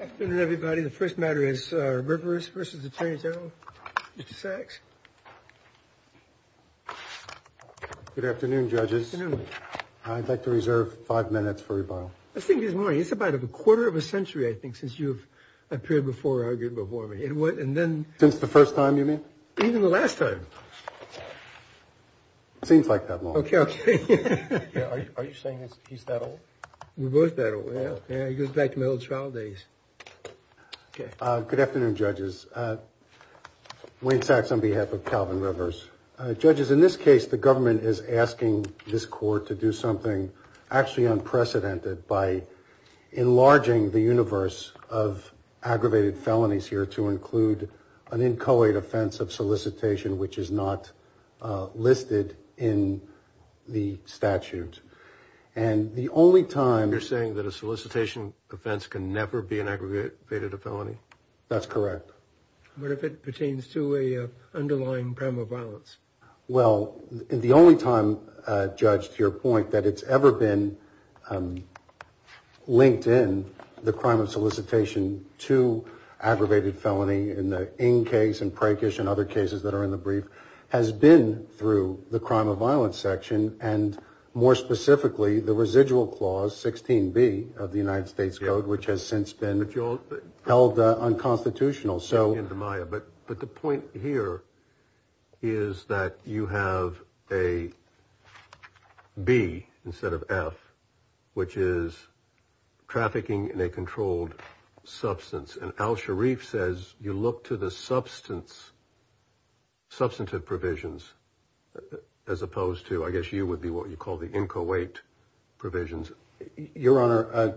Afternoon, everybody. The first matter is Rivers versus Attorney General, Mr. Sachs. Good afternoon, judges. I'd like to reserve five minutes for rebuttal. I think this morning, it's about a quarter of a century, I think, since you've appeared before, argued before me. And then... Since the first time, you mean? Even the last time. Seems like that long. Okay, okay. Are you saying he's that old? We're both that old, yeah. It goes back to my old trial days. Okay, good afternoon, judges. Wayne Sachs on behalf of Calvin Rivers. Judges, in this case, the government is asking this court to do something actually unprecedented by enlarging the universe of aggravated felonies here to include an inchoate offense of solicitation, which is not listed in the statute. And the only time... This can never be an aggravated felony? That's correct. What if it pertains to an underlying crime of violence? Well, the only time, judge, to your point, that it's ever been linked in, the crime of solicitation to aggravated felony in the In case and Prakash and other cases that are in the brief, has been through the crime of violence section. And more specifically, the residual clause 16 B of the United States Code, which has since been held unconstitutional. So in the Maya, but the point here is that you have a B instead of F, which is trafficking in a controlled substance. And Al Sharif says you look to the substance, substantive provisions, as opposed to, I guess you would be what you call the inchoate provisions. Your Honor,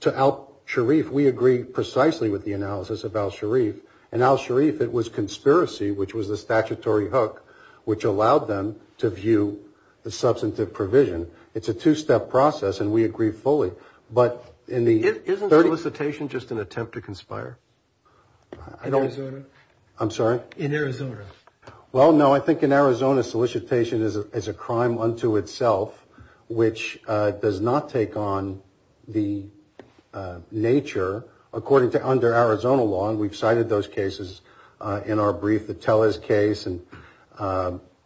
to Al Sharif, we agree precisely with the analysis of Al Sharif. And Al Sharif, it was conspiracy, which was the statutory hook, which allowed them to view the substantive provision. It's a two-step process, and we agree fully. But in the... Isn't solicitation just an attempt to conspire? In Arizona? I'm sorry? In Arizona. Well, no, I think in Arizona, solicitation is a crime unto itself, which does not take on the nature, according to under Arizona law. And we've cited those cases in our brief, the Tellez case. And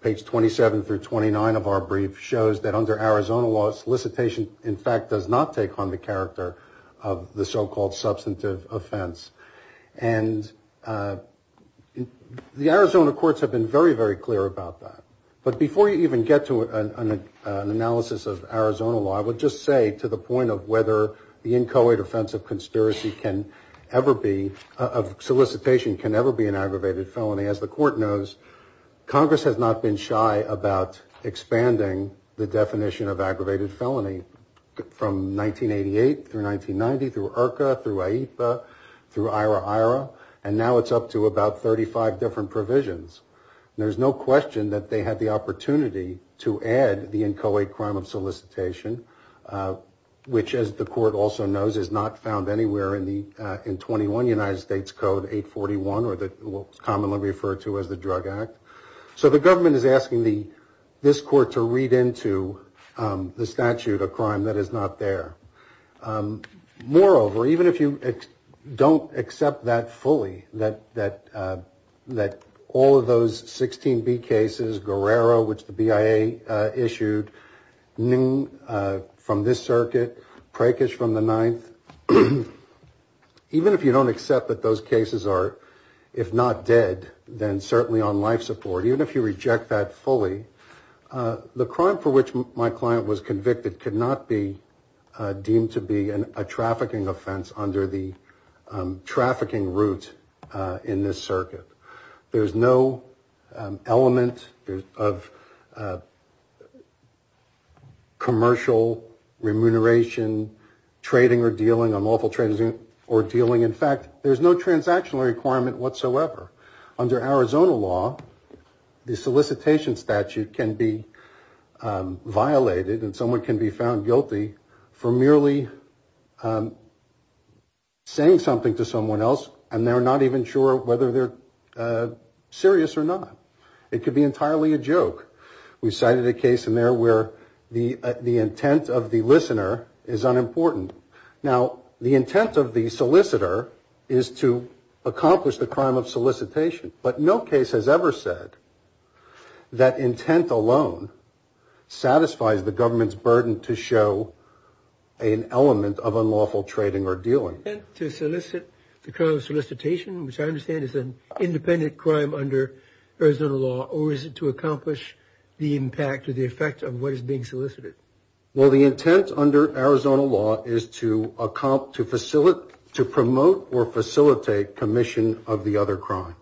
page 27 through 29 of our brief shows that under Arizona law, solicitation, in fact, does not take on the character of the so-called substantive offense. And the Arizona courts have been very, very clear about that. But before you even get to an analysis of Arizona law, I would just say to the point of whether the inchoate offense of conspiracy can ever be, of solicitation, can ever be an aggravated felony, as the court knows, Congress has not been shy about expanding the definition of aggravated felony from 1988 through 1990, through IRCA, through AIPA, through IRA-IRA, and now it's up to about 35 different provisions. There's no question that they had the opportunity to add the inchoate crime of solicitation, which, as the court also knows, is not found anywhere in 21 United States Code 841, or what's commonly referred to as the Drug Act. So the government is asking this court to read into the statute of crime that is not there. Moreover, even if you don't accept that fully, that all of those 16B cases, Guerrero, which the BIA issued, Nguyen from this circuit, Prakash from the 9th, even if you don't accept that those cases are, if not dead, then certainly on life support, even if you reject that fully, the crime for which my client was convicted could not be deemed to be a trafficking offense under the trafficking route in this circuit. There's no element of commercial remuneration, trading or dealing, unlawful trading or dealing. In fact, there's no transactional requirement whatsoever. Under Arizona law, the solicitation statute can be violated and someone can be found guilty for merely saying something to someone else and they're not even sure whether they're serious or not. It could be entirely a joke. We cited a case in there where the intent of the listener is unimportant. Now, the intent of the solicitor is to accomplish the crime of solicitation, but no case has ever said that intent alone satisfies the government's burden to show an element of unlawful trading or dealing. To solicit the crime of solicitation, which I understand is an independent crime under Arizona law, or is it to accomplish the impact or the effect of what is being solicited? Well, the intent under Arizona law is to promote or facilitate commission of the other crime.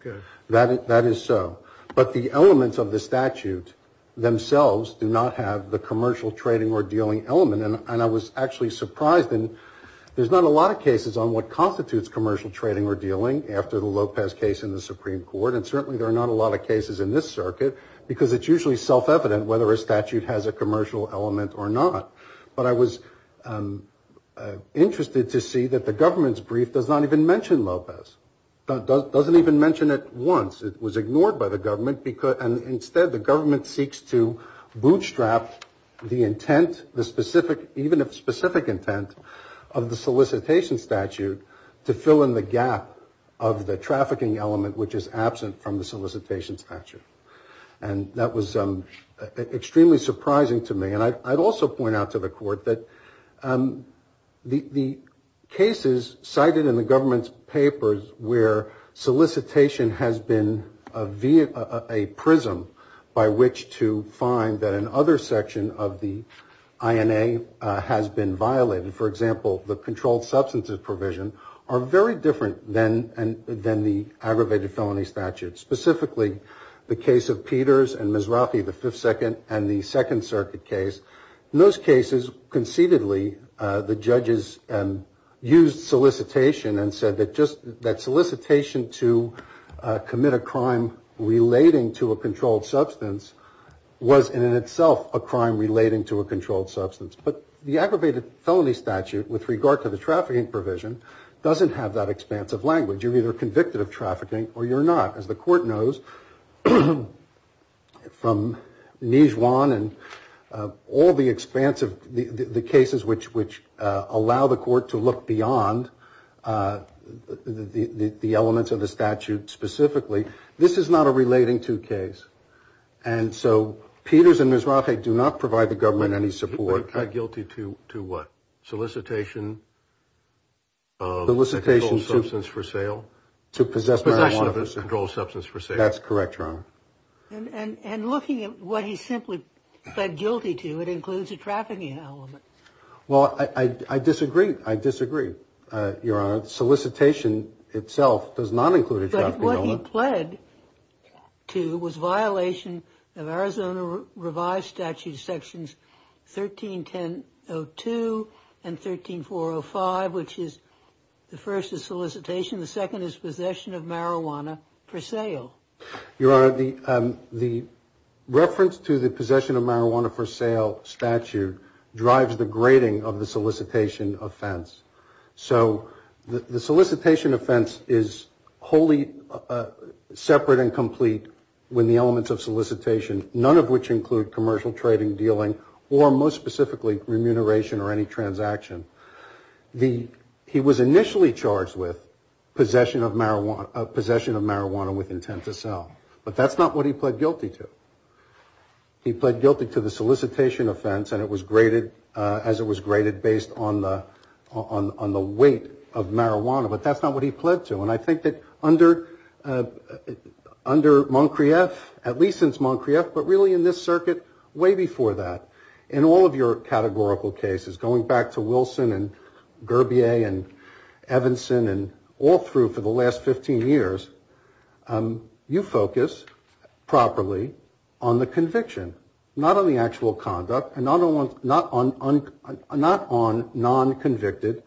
That is so. But the elements of the statute themselves do not have the commercial trading or dealing element. And I was actually surprised. And there's not a lot of cases on what constitutes commercial trading or dealing after the Lopez case in the Supreme Court. And certainly there are not a lot of cases in this circuit because it's usually self-evident whether a statute has a commercial element or not. But I was interested to see that the government's brief does not even mention Lopez, doesn't even mention it once. It was ignored by the government, and instead the government seeks to bootstrap the intent, the specific, even if specific intent, of the solicitation statute to fill in the gap of the trafficking element which is absent from the solicitation statute. And that was extremely surprising to me. And I'd also point out to the court that the cases cited in the government's papers where solicitation has been a prism by which to find that another section of the INA has been violated, for example, the controlled substances provision, are very different than the aggravated felony statute. Specifically, the case of Peters and Mizrahi, the Fifth and the Second Circuit case. In those cases, conceitedly, the judges used solicitation and said that just that solicitation to commit a crime relating to a controlled substance was in itself a crime relating to a controlled substance. But the aggravated felony statute with regard to the trafficking provision doesn't have that expansive language. You're either convicted of trafficking or you're not. As the court knows from Nijuan and all the expansive, the cases which allow the court to look beyond the elements of the statute specifically, this is not a relating to case. And so Peters and Mizrahi do not provide the government any support. I'm guilty to what? Solicitation of a controlled substance for sale? Possession of a controlled substance for sale. That's correct, Your Honor. And looking at what he's simply pled guilty to, it includes a trafficking element. Well, I disagree. I disagree, Your Honor. Solicitation itself does not include a trafficking element. But what he pled to was violation of Arizona Revised Statutes Sections 131002 and 13405, which is the first is solicitation. The second is possession of marijuana for sale. Your Honor, the reference to the possession of marijuana for sale statute drives the grading of the solicitation offense. So the solicitation offense is wholly separate and complete when the elements of solicitation, none of which include commercial trading, dealing, or most specifically, remuneration or any transaction. He was initially charged with possession of marijuana with intent to sell. But that's not what he pled guilty to. He pled guilty to the solicitation offense as it was graded based on the weight of marijuana. But that's not what he pled to. And I think that under Moncrieff, at least since Moncrieff, but really in this circuit way before that, in all of your categorical cases, going back to Wilson and Gurbier and Evanson and all through for the last 15 years, you focus properly on the conviction, not on the actual conduct and not on non-convicted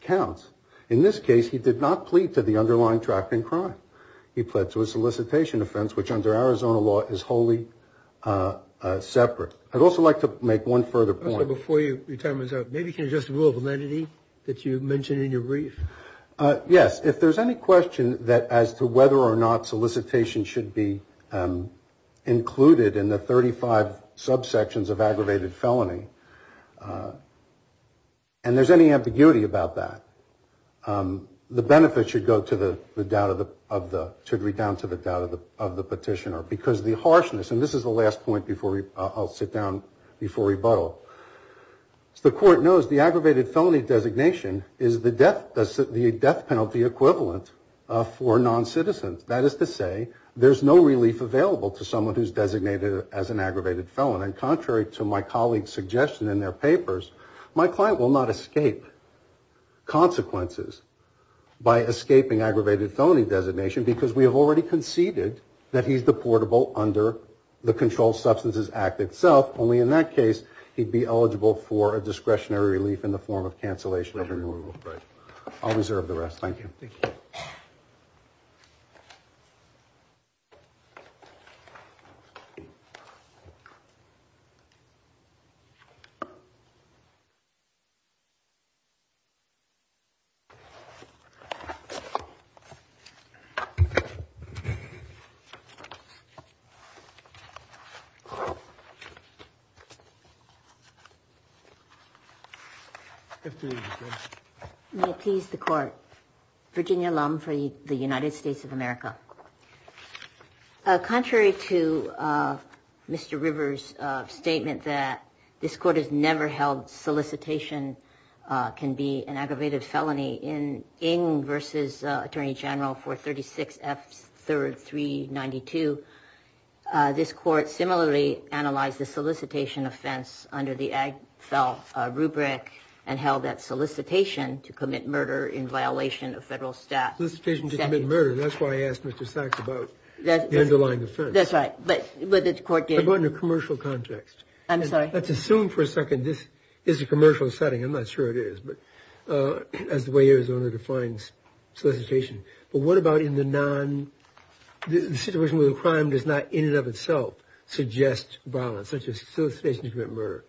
counts. In this case, he did not plead to the underlying trafficking crime. He pled to a solicitation offense, which under Arizona law is wholly separate. I'd also like to make one further point. Before your time is up, maybe you can address the rule of lenity that you mentioned in your brief. Yes. If there's any question as to whether or not solicitation should be included in the 35 subsections of aggravated felony, and there's any ambiguity about that, the benefit should go down to the doubt of the petitioner. Because the harshness, and this is the last point before I'll sit down before rebuttal. As the court knows, the aggravated felony designation is the death penalty equivalent for non-citizens. That is to say, there's no relief available to someone who's designated as an aggravated felon. And contrary to my colleague's suggestion in their papers, my client will not escape consequences by escaping aggravated felony designation because we have already conceded that he's deportable under the Controlled Substances Act itself. Only in that case, he'd be eligible for a discretionary relief in the form of cancellation. I'll reserve the rest. Thank you. May it please the court. Virginia Lum for the United States of America. Contrary to Mr. Rivers' statement that this court has never held solicitation can be an aggravated felony in Ng v. Attorney General for 36 F. 3rd 392, this court similarly analyzed the solicitation offense under the AGFEL rubric and held that solicitation to commit murder in violation of federal statute. And that's why I asked Mr. Sachs about the underlying offense. That's right. But the court did. But in a commercial context. I'm sorry. Let's assume for a second this is a commercial setting. I'm not sure it is. But as the way Arizona defines solicitation. But what about in the situation where the crime does not in and of itself suggest violence, such as solicitation to commit murder?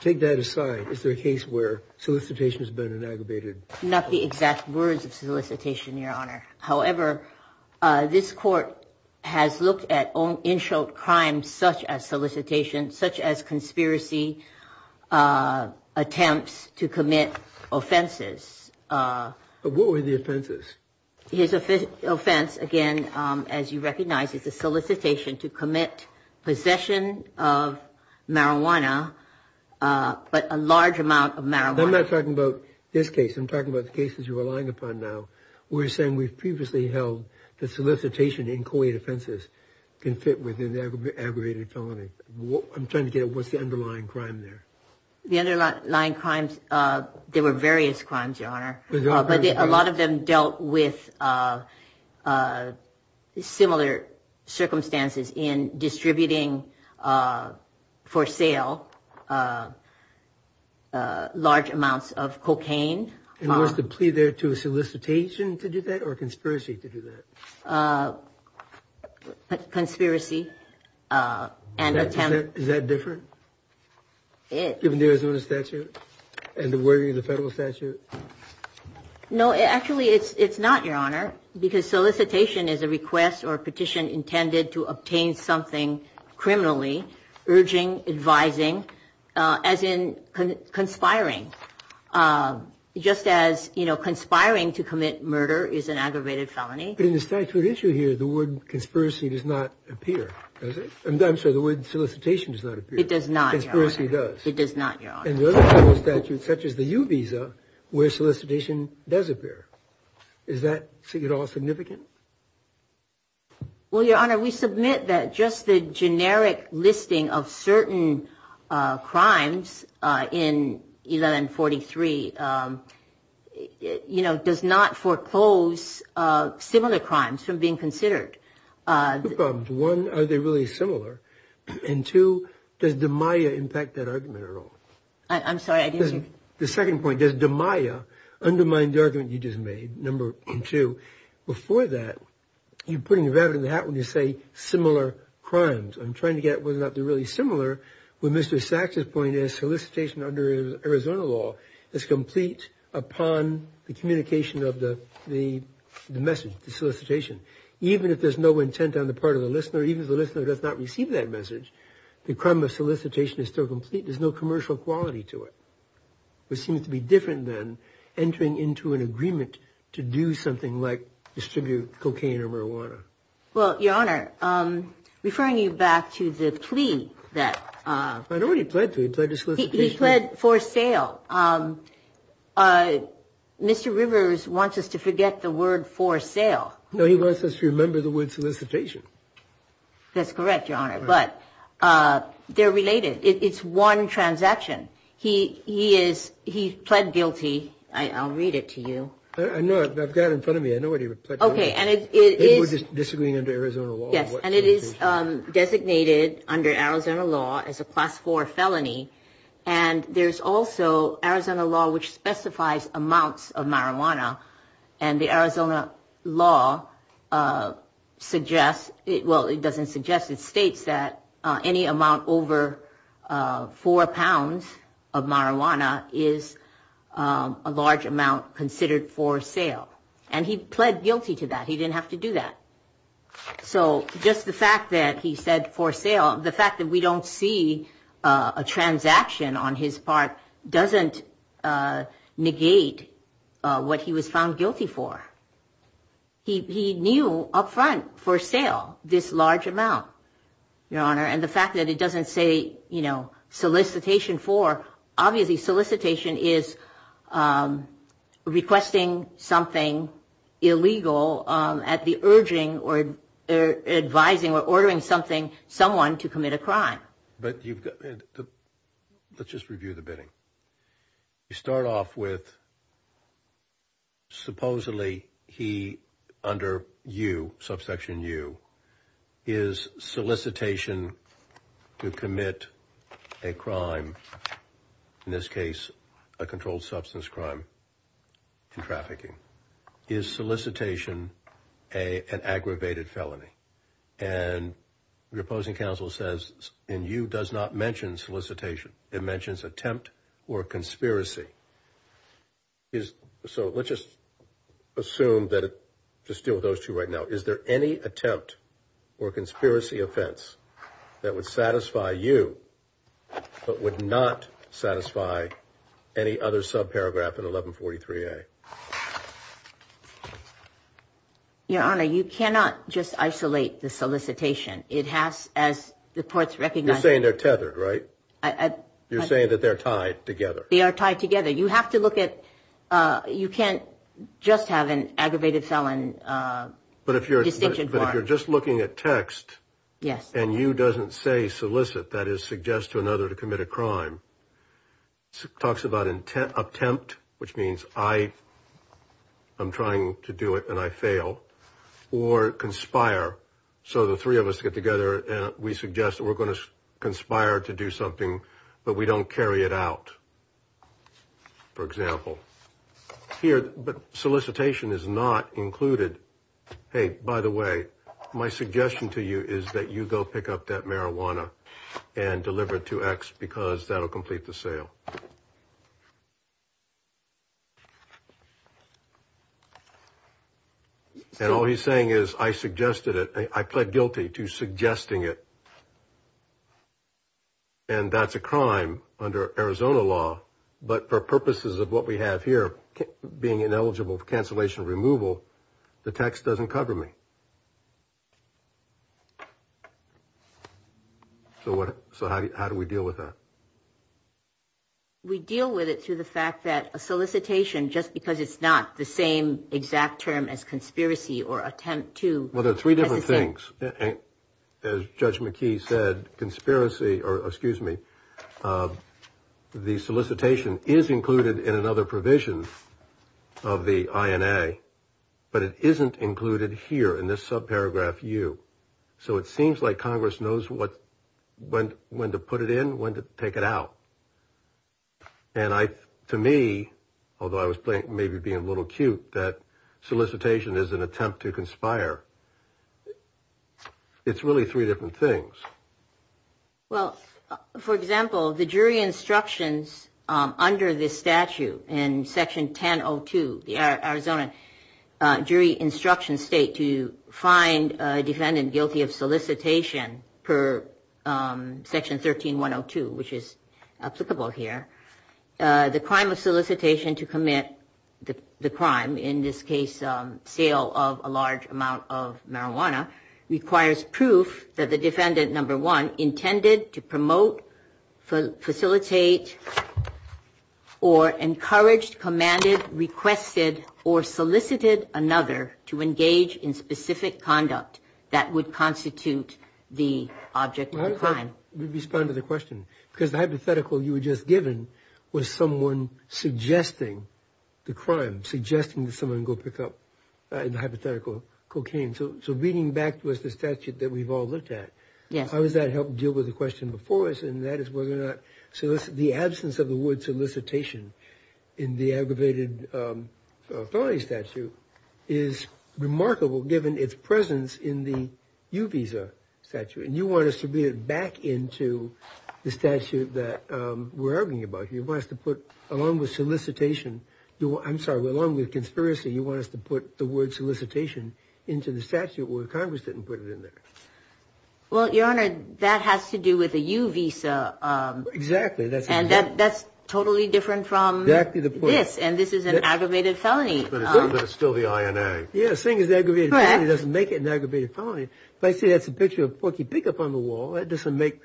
Take that aside. Is there a case where solicitation has been an aggravated? Not the exact words of solicitation, Your Honor. However, this court has looked at own in short crimes such as solicitation, such as conspiracy attempts to commit offenses. What were the offenses? His offense, again, as you recognize, is a solicitation to commit possession of marijuana, but a large amount of marijuana. I'm not talking about this case. I'm talking about the cases you're relying upon. Now, we're saying we've previously held the solicitation. Inquiry defenses can fit with an aggravated felony. I'm trying to get what's the underlying crime there. The underlying crimes. There were various crimes, Your Honor. But a lot of them dealt with similar circumstances in distributing for sale. Uh, uh, large amounts of cocaine. And was the plea there to a solicitation to do that or conspiracy to do that? Uh, conspiracy. Uh, and is that different? Given the Arizona statute and the wording of the federal statute? No, actually, it's it's not, Your Honor, because solicitation is a request or petition intended to obtain something criminally, urging, advising, uh, as in conspiring. Uh, just as, you know, conspiring to commit murder is an aggravated felony. But in the statute issue here, the word conspiracy does not appear, does it? I'm sorry, the word solicitation does not appear. It does not, Your Honor. Conspiracy does. It does not, Your Honor. And the other federal statutes, such as the U visa, where solicitation does appear. Is that at all significant? Well, Your Honor, we submit that just the generic listing of certain crimes in 1143, um, you know, does not foreclose, uh, similar crimes from being considered. Uh. One, are they really similar? And two, does the Maya impact that argument at all? I'm sorry, I didn't hear. The second point, does the Maya undermine the argument you just made? Number two, before that, you're putting a rabbit in the hat when you say similar crimes. I'm trying to get whether or not they're really similar. With Mr. Sachs's point is solicitation under Arizona law is complete upon the communication of the, the message, the solicitation. Even if there's no intent on the part of the listener, even if the listener does not receive that message, the crime of solicitation is still complete. There's no commercial quality to it. Which seems to be different than entering into an agreement to do something like distribute cocaine or marijuana. Well, Your Honor, um, referring you back to the plea that, uh. I know what he pled to. He pled to solicitation. He pled for sale. Um, uh, Mr. Rivers wants us to forget the word for sale. No, he wants us to remember the word solicitation. That's correct, Your Honor. But, uh, they're related. It's one transaction. He, he is, he pled guilty. I, I'll read it to you. I know, I've got it in front of me. I know what he pled guilty. Okay, and it is. It was a, this is going under Arizona law. Yes, and it is, um, designated under Arizona law as a class four felony. And there's also Arizona law, which specifies amounts of marijuana. And the Arizona law, uh, suggests it, well, it doesn't suggest it states that, uh, any amount over, uh, four pounds of marijuana is, um, a large amount considered for sale. And he pled guilty to that. He didn't have to do that. So just the fact that he said for sale, the fact that we don't see, uh, a transaction on his part doesn't, uh, negate, uh, what he was found guilty for. He, he knew upfront for sale, this large amount, Your Honor. And the fact that it doesn't say, you know, solicitation for obviously solicitation is, um, requesting something illegal, um, at the urging or advising or ordering something, someone to commit a crime. But you've got, let's just review the bidding. You start off with supposedly he under you, subsection U is solicitation to commit a crime. In this case, a controlled substance crime and trafficking is solicitation, a, an aggravated felony. And your opposing counsel says, and you does not mention solicitation. It mentions attempt or conspiracy is. So let's just assume that just deal with those two right now. Is there any attempt or conspiracy offense that would satisfy you, but would not satisfy any other subparagraph in 1143a? Your Honor, you cannot just isolate the solicitation. It has, as the courts recognize, You're saying they're tethered, right? You're saying that they're tied together. They are tied together. You have to look at, uh, you can't just have an aggravated felon. But if you're just looking at text and you doesn't say solicit, that is suggest to another to commit a crime. Talks about intent, attempt, which means I, I'm trying to do it and I fail or conspire. So the three of us get together and we suggest that we're going to But we don't carry it out. For example, here, but solicitation is not included. Hey, by the way, my suggestion to you is that you go pick up that marijuana and deliver it to X because that'll complete the sale. And all he's saying is I suggested it. I pled guilty to suggesting it. And that's a crime under Arizona law. But for purposes of what we have here, being ineligible for cancellation removal, the text doesn't cover me. So what? So how do we deal with that? We deal with it through the fact that a solicitation, just because it's not the same exact term as conspiracy or attempt to Well, there are three different things. As Judge McKee said, conspiracy or excuse me, the solicitation is included in another provision of the INA, but it isn't included here in this subparagraph you. So it seems like Congress knows what, when, when to put it in, when to take it out. And I, to me, although I was maybe being a little cute, that solicitation is an attempt to conspire. It's really three different things. Well, for example, the jury instructions under this statute in section 1002, the Arizona jury instruction state to find a defendant guilty of solicitation per section 13102, which is applicable here. The crime of solicitation to commit the crime, in this case, sale of a large amount of marijuana requires proof that the defendant, number one, intended to promote, facilitate, or encouraged, commanded, requested, or solicited another to engage in specific conduct that would constitute the object of the crime. We respond to the question because the hypothetical you were just given was someone suggesting the crime, suggesting that someone go pick up hypothetical cocaine. So reading back was the statute that we've all looked at. Yes. How does that help deal with the question before us? And that is whether or not solicit, the absence of the word solicitation in the aggravated felony statute is remarkable given its presence in the U visa statute. You want to submit it back into the statute that we're arguing about. You want us to put, along with solicitation, I'm sorry, along with conspiracy, you want us to put the word solicitation into the statute where Congress didn't put it in there. Well, Your Honor, that has to do with the U visa. Exactly. That's totally different from this. And this is an aggravated felony. But it's still the INA. Yes. Seeing as aggravated felony doesn't make it an aggravated felony. But I see that's a picture of Porky Pig up on the wall. That doesn't make,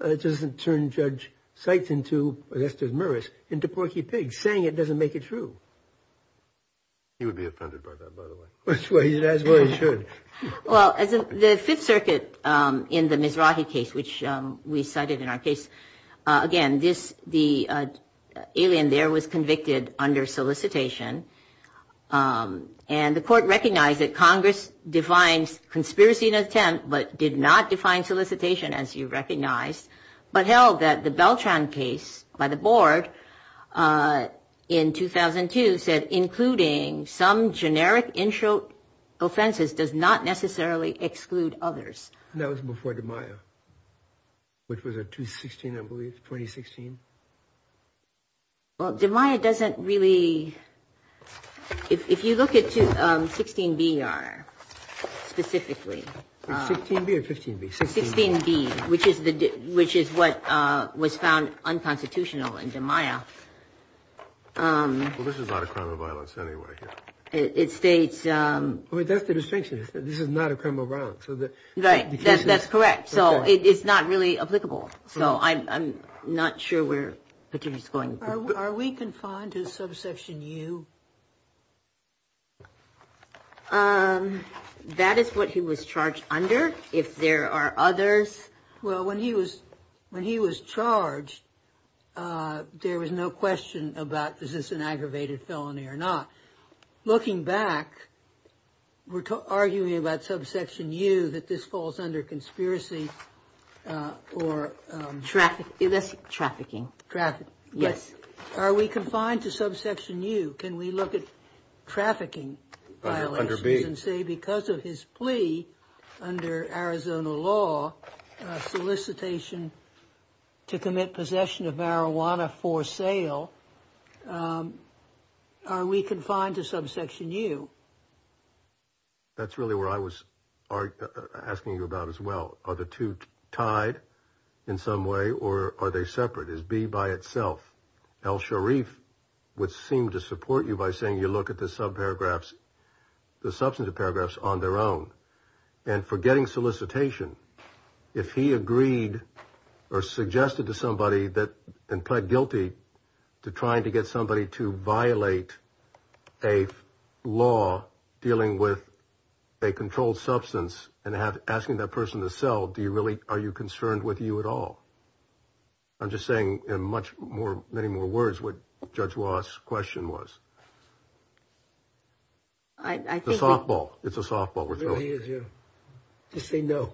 it doesn't turn Judge Seitz into, I guess there's Morris, into Porky Pig. Saying it doesn't make it true. He would be offended by that, by the way. That's why he should. Well, as the Fifth Circuit in the Mizrahi case, which we cited in our case, again, this, the alien there was convicted under solicitation. And the court recognized that Congress defines conspiracy in attempt, but did not define solicitation as you recognized. But held that the Beltran case by the board in 2002 said, including some generic in-show offenses does not necessarily exclude others. That was before the Maya, which was a 2016, I believe, 2016. Well, the Maya doesn't really, if you look at 16B, Your Honor, specifically. 16B or 15B? 16B, which is the, which is what was found unconstitutional in the Maya. Well, this is not a crime of violence anyway. It states. That's the distinction. This is not a crime of violence. Right, that's correct. So it's not really applicable. So I'm not sure where Petit is going. Are we confined to subsection U? That is what he was charged under. If there are others. Well, when he was, when he was charged, there was no question about this is an aggravated felony or not. Looking back, we're arguing about subsection U, that this falls under conspiracy or. Trafficking, that's trafficking. Trafficking. Yes. Are we confined to subsection U? Can we look at trafficking violations and say because of his plea under Arizona law, solicitation to commit possession of marijuana for sale. Are we confined to subsection U? That's really where I was asking you about as well. Are the two tied in some way or are they separate? Is B by itself? Al Sharif would seem to support you by saying you look at the sub paragraphs, the substantive paragraphs on their own and forgetting solicitation. If he agreed or suggested to somebody that and pled guilty to trying to get somebody to violate a law dealing with a controlled substance and asking that person to sell, do you really are you concerned with you at all? I'm just saying in much more many more words, what judge was question was. I think the softball, it's a softball. Just say no,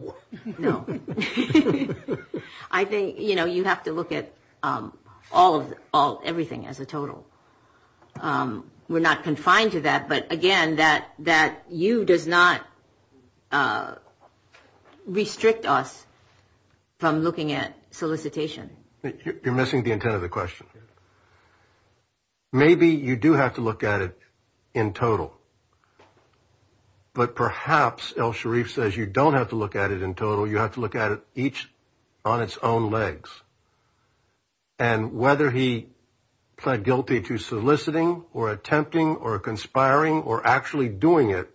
no. I think, you know, you have to look at all of all everything as a total. We're not confined to that. But again, that that U does not restrict us from looking at solicitation. You're missing the intent of the question. Maybe you do have to look at it in total. But perhaps Al Sharif says you don't have to look at it in total. You have to look at it each on its own legs. And whether he pled guilty to soliciting or attempting or conspiring or actually doing it,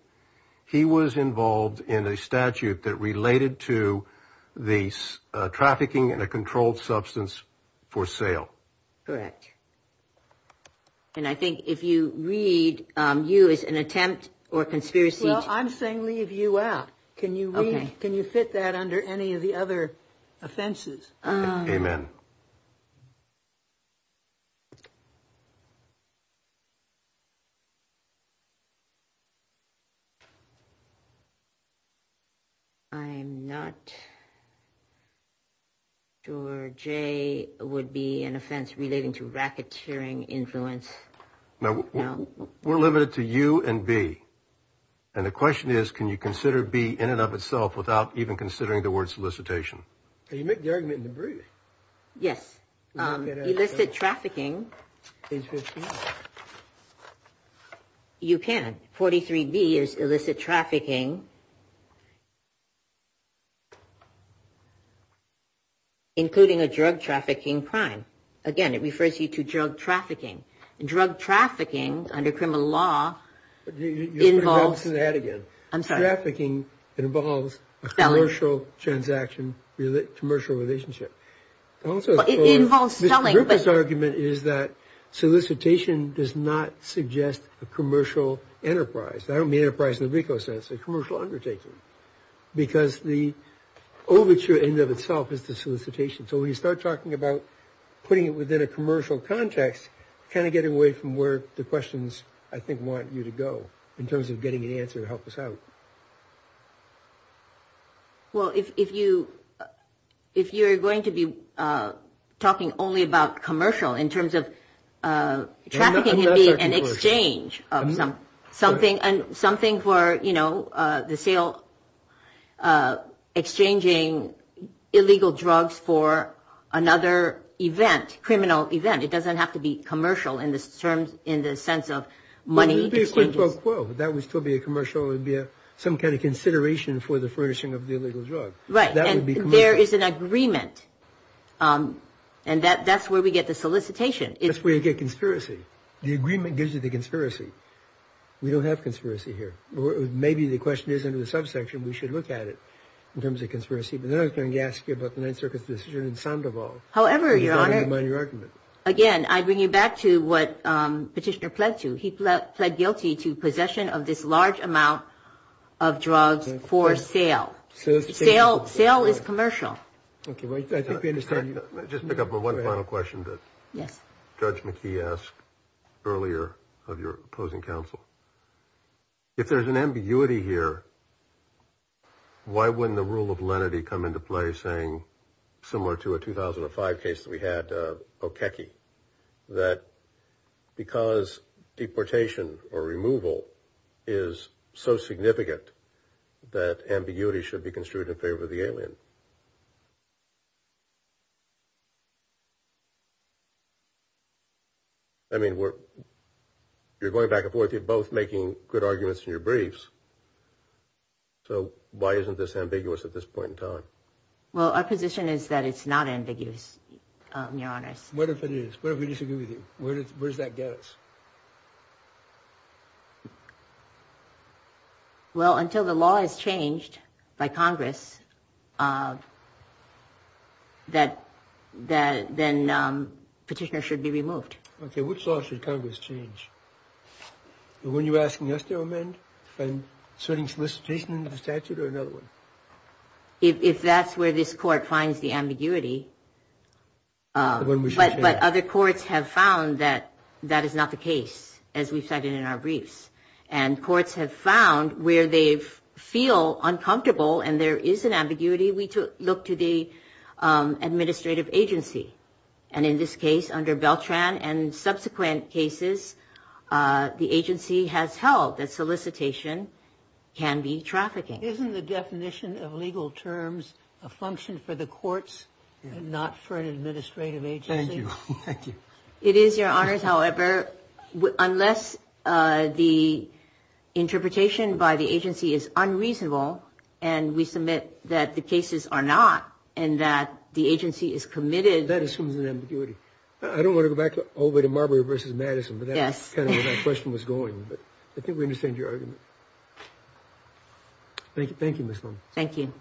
he was involved in a statute that related to the trafficking in a controlled substance for sale. Correct. And I think if you read you as an attempt or conspiracy, I'm saying leave you out. Can you can you fit that under any of the other offenses? Amen. I'm not. George, a would be an offense relating to racketeering influence. We're limited to you and B. And the question is, can you consider B in and of itself without even considering the word solicitation? Can you make the argument in the brief? Yes. You listed trafficking. You can. Forty three B is illicit trafficking. Including a drug trafficking crime. Again, it refers you to drug trafficking and drug trafficking under criminal law. Involves that again. Trafficking involves a commercial transaction, commercial relationship. It involves selling. This argument is that solicitation does not suggest a commercial enterprise. I don't mean enterprise in the RICO sense, a commercial undertaking, because the overture in and of itself is the solicitation. So when you start talking about putting it within a commercial context, kind of get away from where the questions I think want you to go in terms of getting an answer to help us out. Well, if you if you're going to be talking only about commercial in terms of trafficking and exchange of something and something for, you know, the sale. Exchanging illegal drugs for another event, criminal event. It doesn't have to be commercial in this terms, in the sense of money. That would still be a commercial. It would be some kind of consideration for the furnishing of the illegal drug. Right. That would be there is an agreement. And that that's where we get the solicitation. It's where you get conspiracy. The agreement gives you the conspiracy. We don't have conspiracy here. Maybe the question is in the subsection. We should look at it in terms of conspiracy. But then I was going to ask you about the Ninth Circuit's decision in Sandoval. However, your argument. Again, I bring you back to what petitioner pledged to. Pled guilty to possession of this large amount of drugs for sale. Sale is commercial. Just pick up on one final question that Judge McKee asked earlier of your opposing counsel. If there's an ambiguity here, why wouldn't the rule of lenity come into play saying similar to a 2005 case that we had? Okay. That because deportation or removal is so significant that ambiguity should be construed in favor of the alien. I mean, you're going back and forth. You're both making good arguments in your briefs. So why isn't this ambiguous at this point in time? Well, our position is that it's not ambiguous. Your Honor. What if it is? What if we disagree with you? Where does that get us? Well, until the law is changed by Congress. That then petitioner should be removed. Okay. Which law should Congress change? When you're asking us to amend and setting solicitation into statute or another one? If that's where this court finds the ambiguity. But other courts have found that that is not the case, as we've cited in our briefs. And courts have found where they feel uncomfortable and there is an ambiguity, we look to the administrative agency. And in this case, under Beltran and subsequent cases, the agency has held that solicitation can be trafficking. Isn't the definition of legal terms a function for the courts and not for an administrative agency? Thank you. It is, Your Honors. However, unless the interpretation by the agency is unreasonable and we submit that the cases are not and that the agency is committed. That assumes an ambiguity. I don't want to go back over to Marbury versus Madison, but that's kind of where that question was going. But I think we understand your argument. Thank you, Ms. Long. Thank you.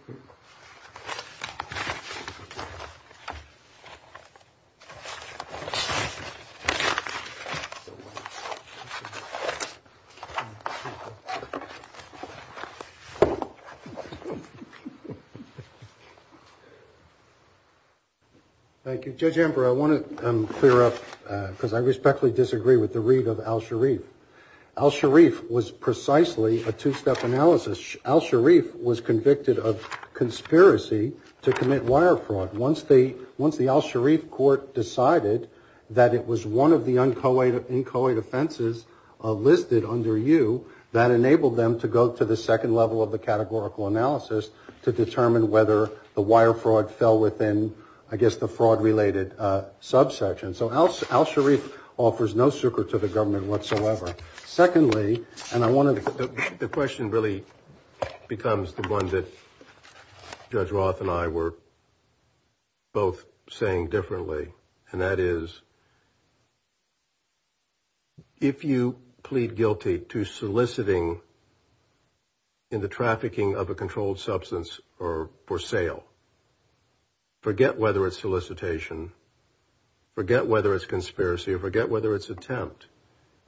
Thank you, Judge Ember. I want to clear up because I respectfully disagree with the read of Al-Sharif. Al-Sharif was precisely a two step analysis. Al-Sharif was convicted of conspiracy to commit wire fraud. Once the Al-Sharif court decided that it was one of the uncoated offenses listed under you, that enabled them to go to the second level of the categorical analysis to determine whether the wire fraud fell within, I guess, the fraud related subsection. So Al-Sharif offers no secret to the government whatsoever. Secondly, and I want to... The question really becomes the one that Judge Roth and I were both saying differently. And that is, if you plead guilty to soliciting in the trafficking of a controlled substance or for sale, forget whether it's solicitation, forget whether it's conspiracy, or forget whether it's attempt,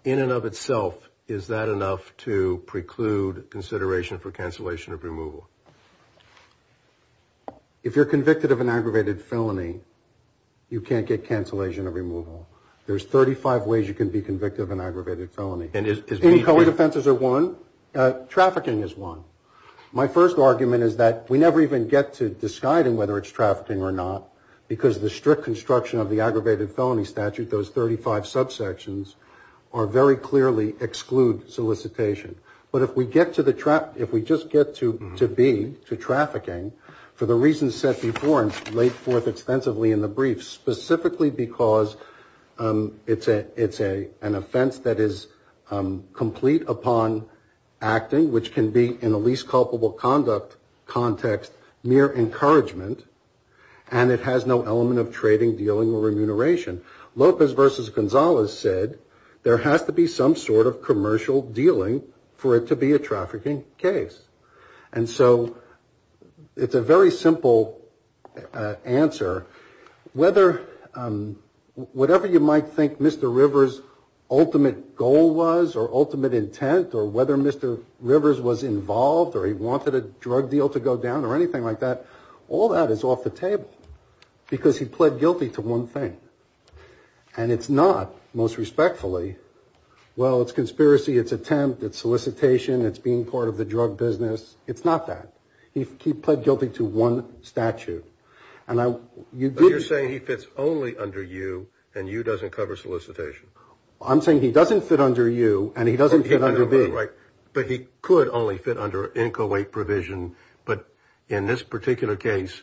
in and of itself, is that enough to preclude consideration for cancellation of removal? If you're convicted of an aggravated felony, you can't get cancellation of removal. There's 35 ways you can be convicted of an aggravated felony. And is... Uncoated offenses are one. Trafficking is one. My first argument is that we never even get to disguiding whether it's trafficking or not, because the strict construction of the aggravated felony statute, those 35 subsections, are very clearly exclude solicitation. But if we get to the trap... If we just get to B, to trafficking, for the reasons set before and laid forth extensively in the brief, specifically because it's an offense that is complete upon acting, which can be, in the least culpable conduct context, mere encouragement, and it has no element of trading, dealing, or remuneration. Lopez versus Gonzalez said, there has to be some sort of commercial dealing for it to be a trafficking case. And so, it's a very simple answer. Whether... Whatever you might think Mr. Rivers' ultimate goal was, or ultimate intent, or whether Mr. Rivers was involved, or he wanted a drug deal to go down, or anything like that, all that is off the table. Because he pled guilty to one thing. And it's not, most respectfully, well, it's conspiracy, it's attempt, it's solicitation, it's being part of the drug business. It's not that. He pled guilty to one statute. And I... You're saying he fits only under U, and U doesn't cover solicitation. I'm saying he doesn't fit under U, and he doesn't fit under B. Right. But he could only fit under INCOWAIT provision. But in this particular case,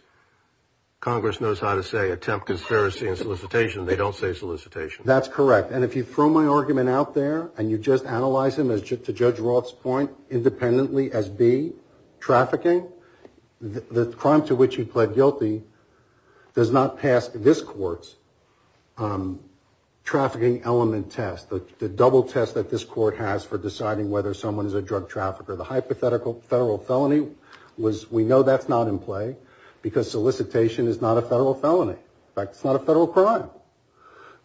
Congress knows how to say attempt, conspiracy, and solicitation. They don't say solicitation. That's correct. And if you throw my argument out there, and you just analyze him as, to Judge Roth's point, independently as B, trafficking, the crime to which he pled guilty does not pass this court's trafficking element test. The double test that this court has for deciding whether someone is a drug trafficker. The hypothetical federal felony was, we know that's not in play, because solicitation is not a federal felony. In fact, it's not a federal crime.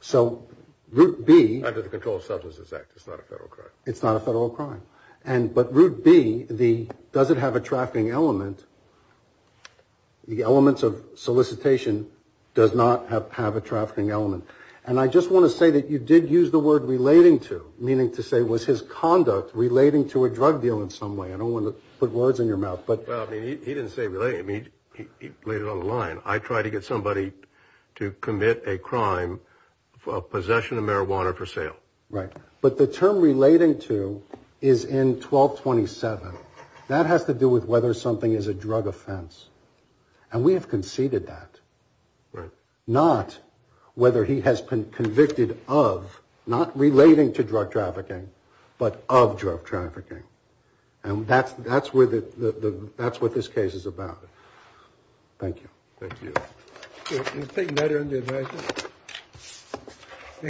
So, Route B... Under the Controlled Substances Act, it's not a federal crime. It's not a federal crime. And, but Route B, does it have a trafficking element? The elements of solicitation does not have a trafficking element. And I just want to say that you did use the word relating to, meaning to say was his conduct relating to a drug deal in some way. I don't want to put words in your mouth, but... Well, I mean, he didn't say relating. I mean, he laid it on the line. I try to get somebody to commit a crime of possession of marijuana for sale. Right. But the term relating to is in 1227. That has to do with whether something is a drug offense. And we have conceded that. Right. Not whether he has been convicted of, not relating to drug trafficking, but of drug trafficking. And that's what this case is about. Thank you. Thank you.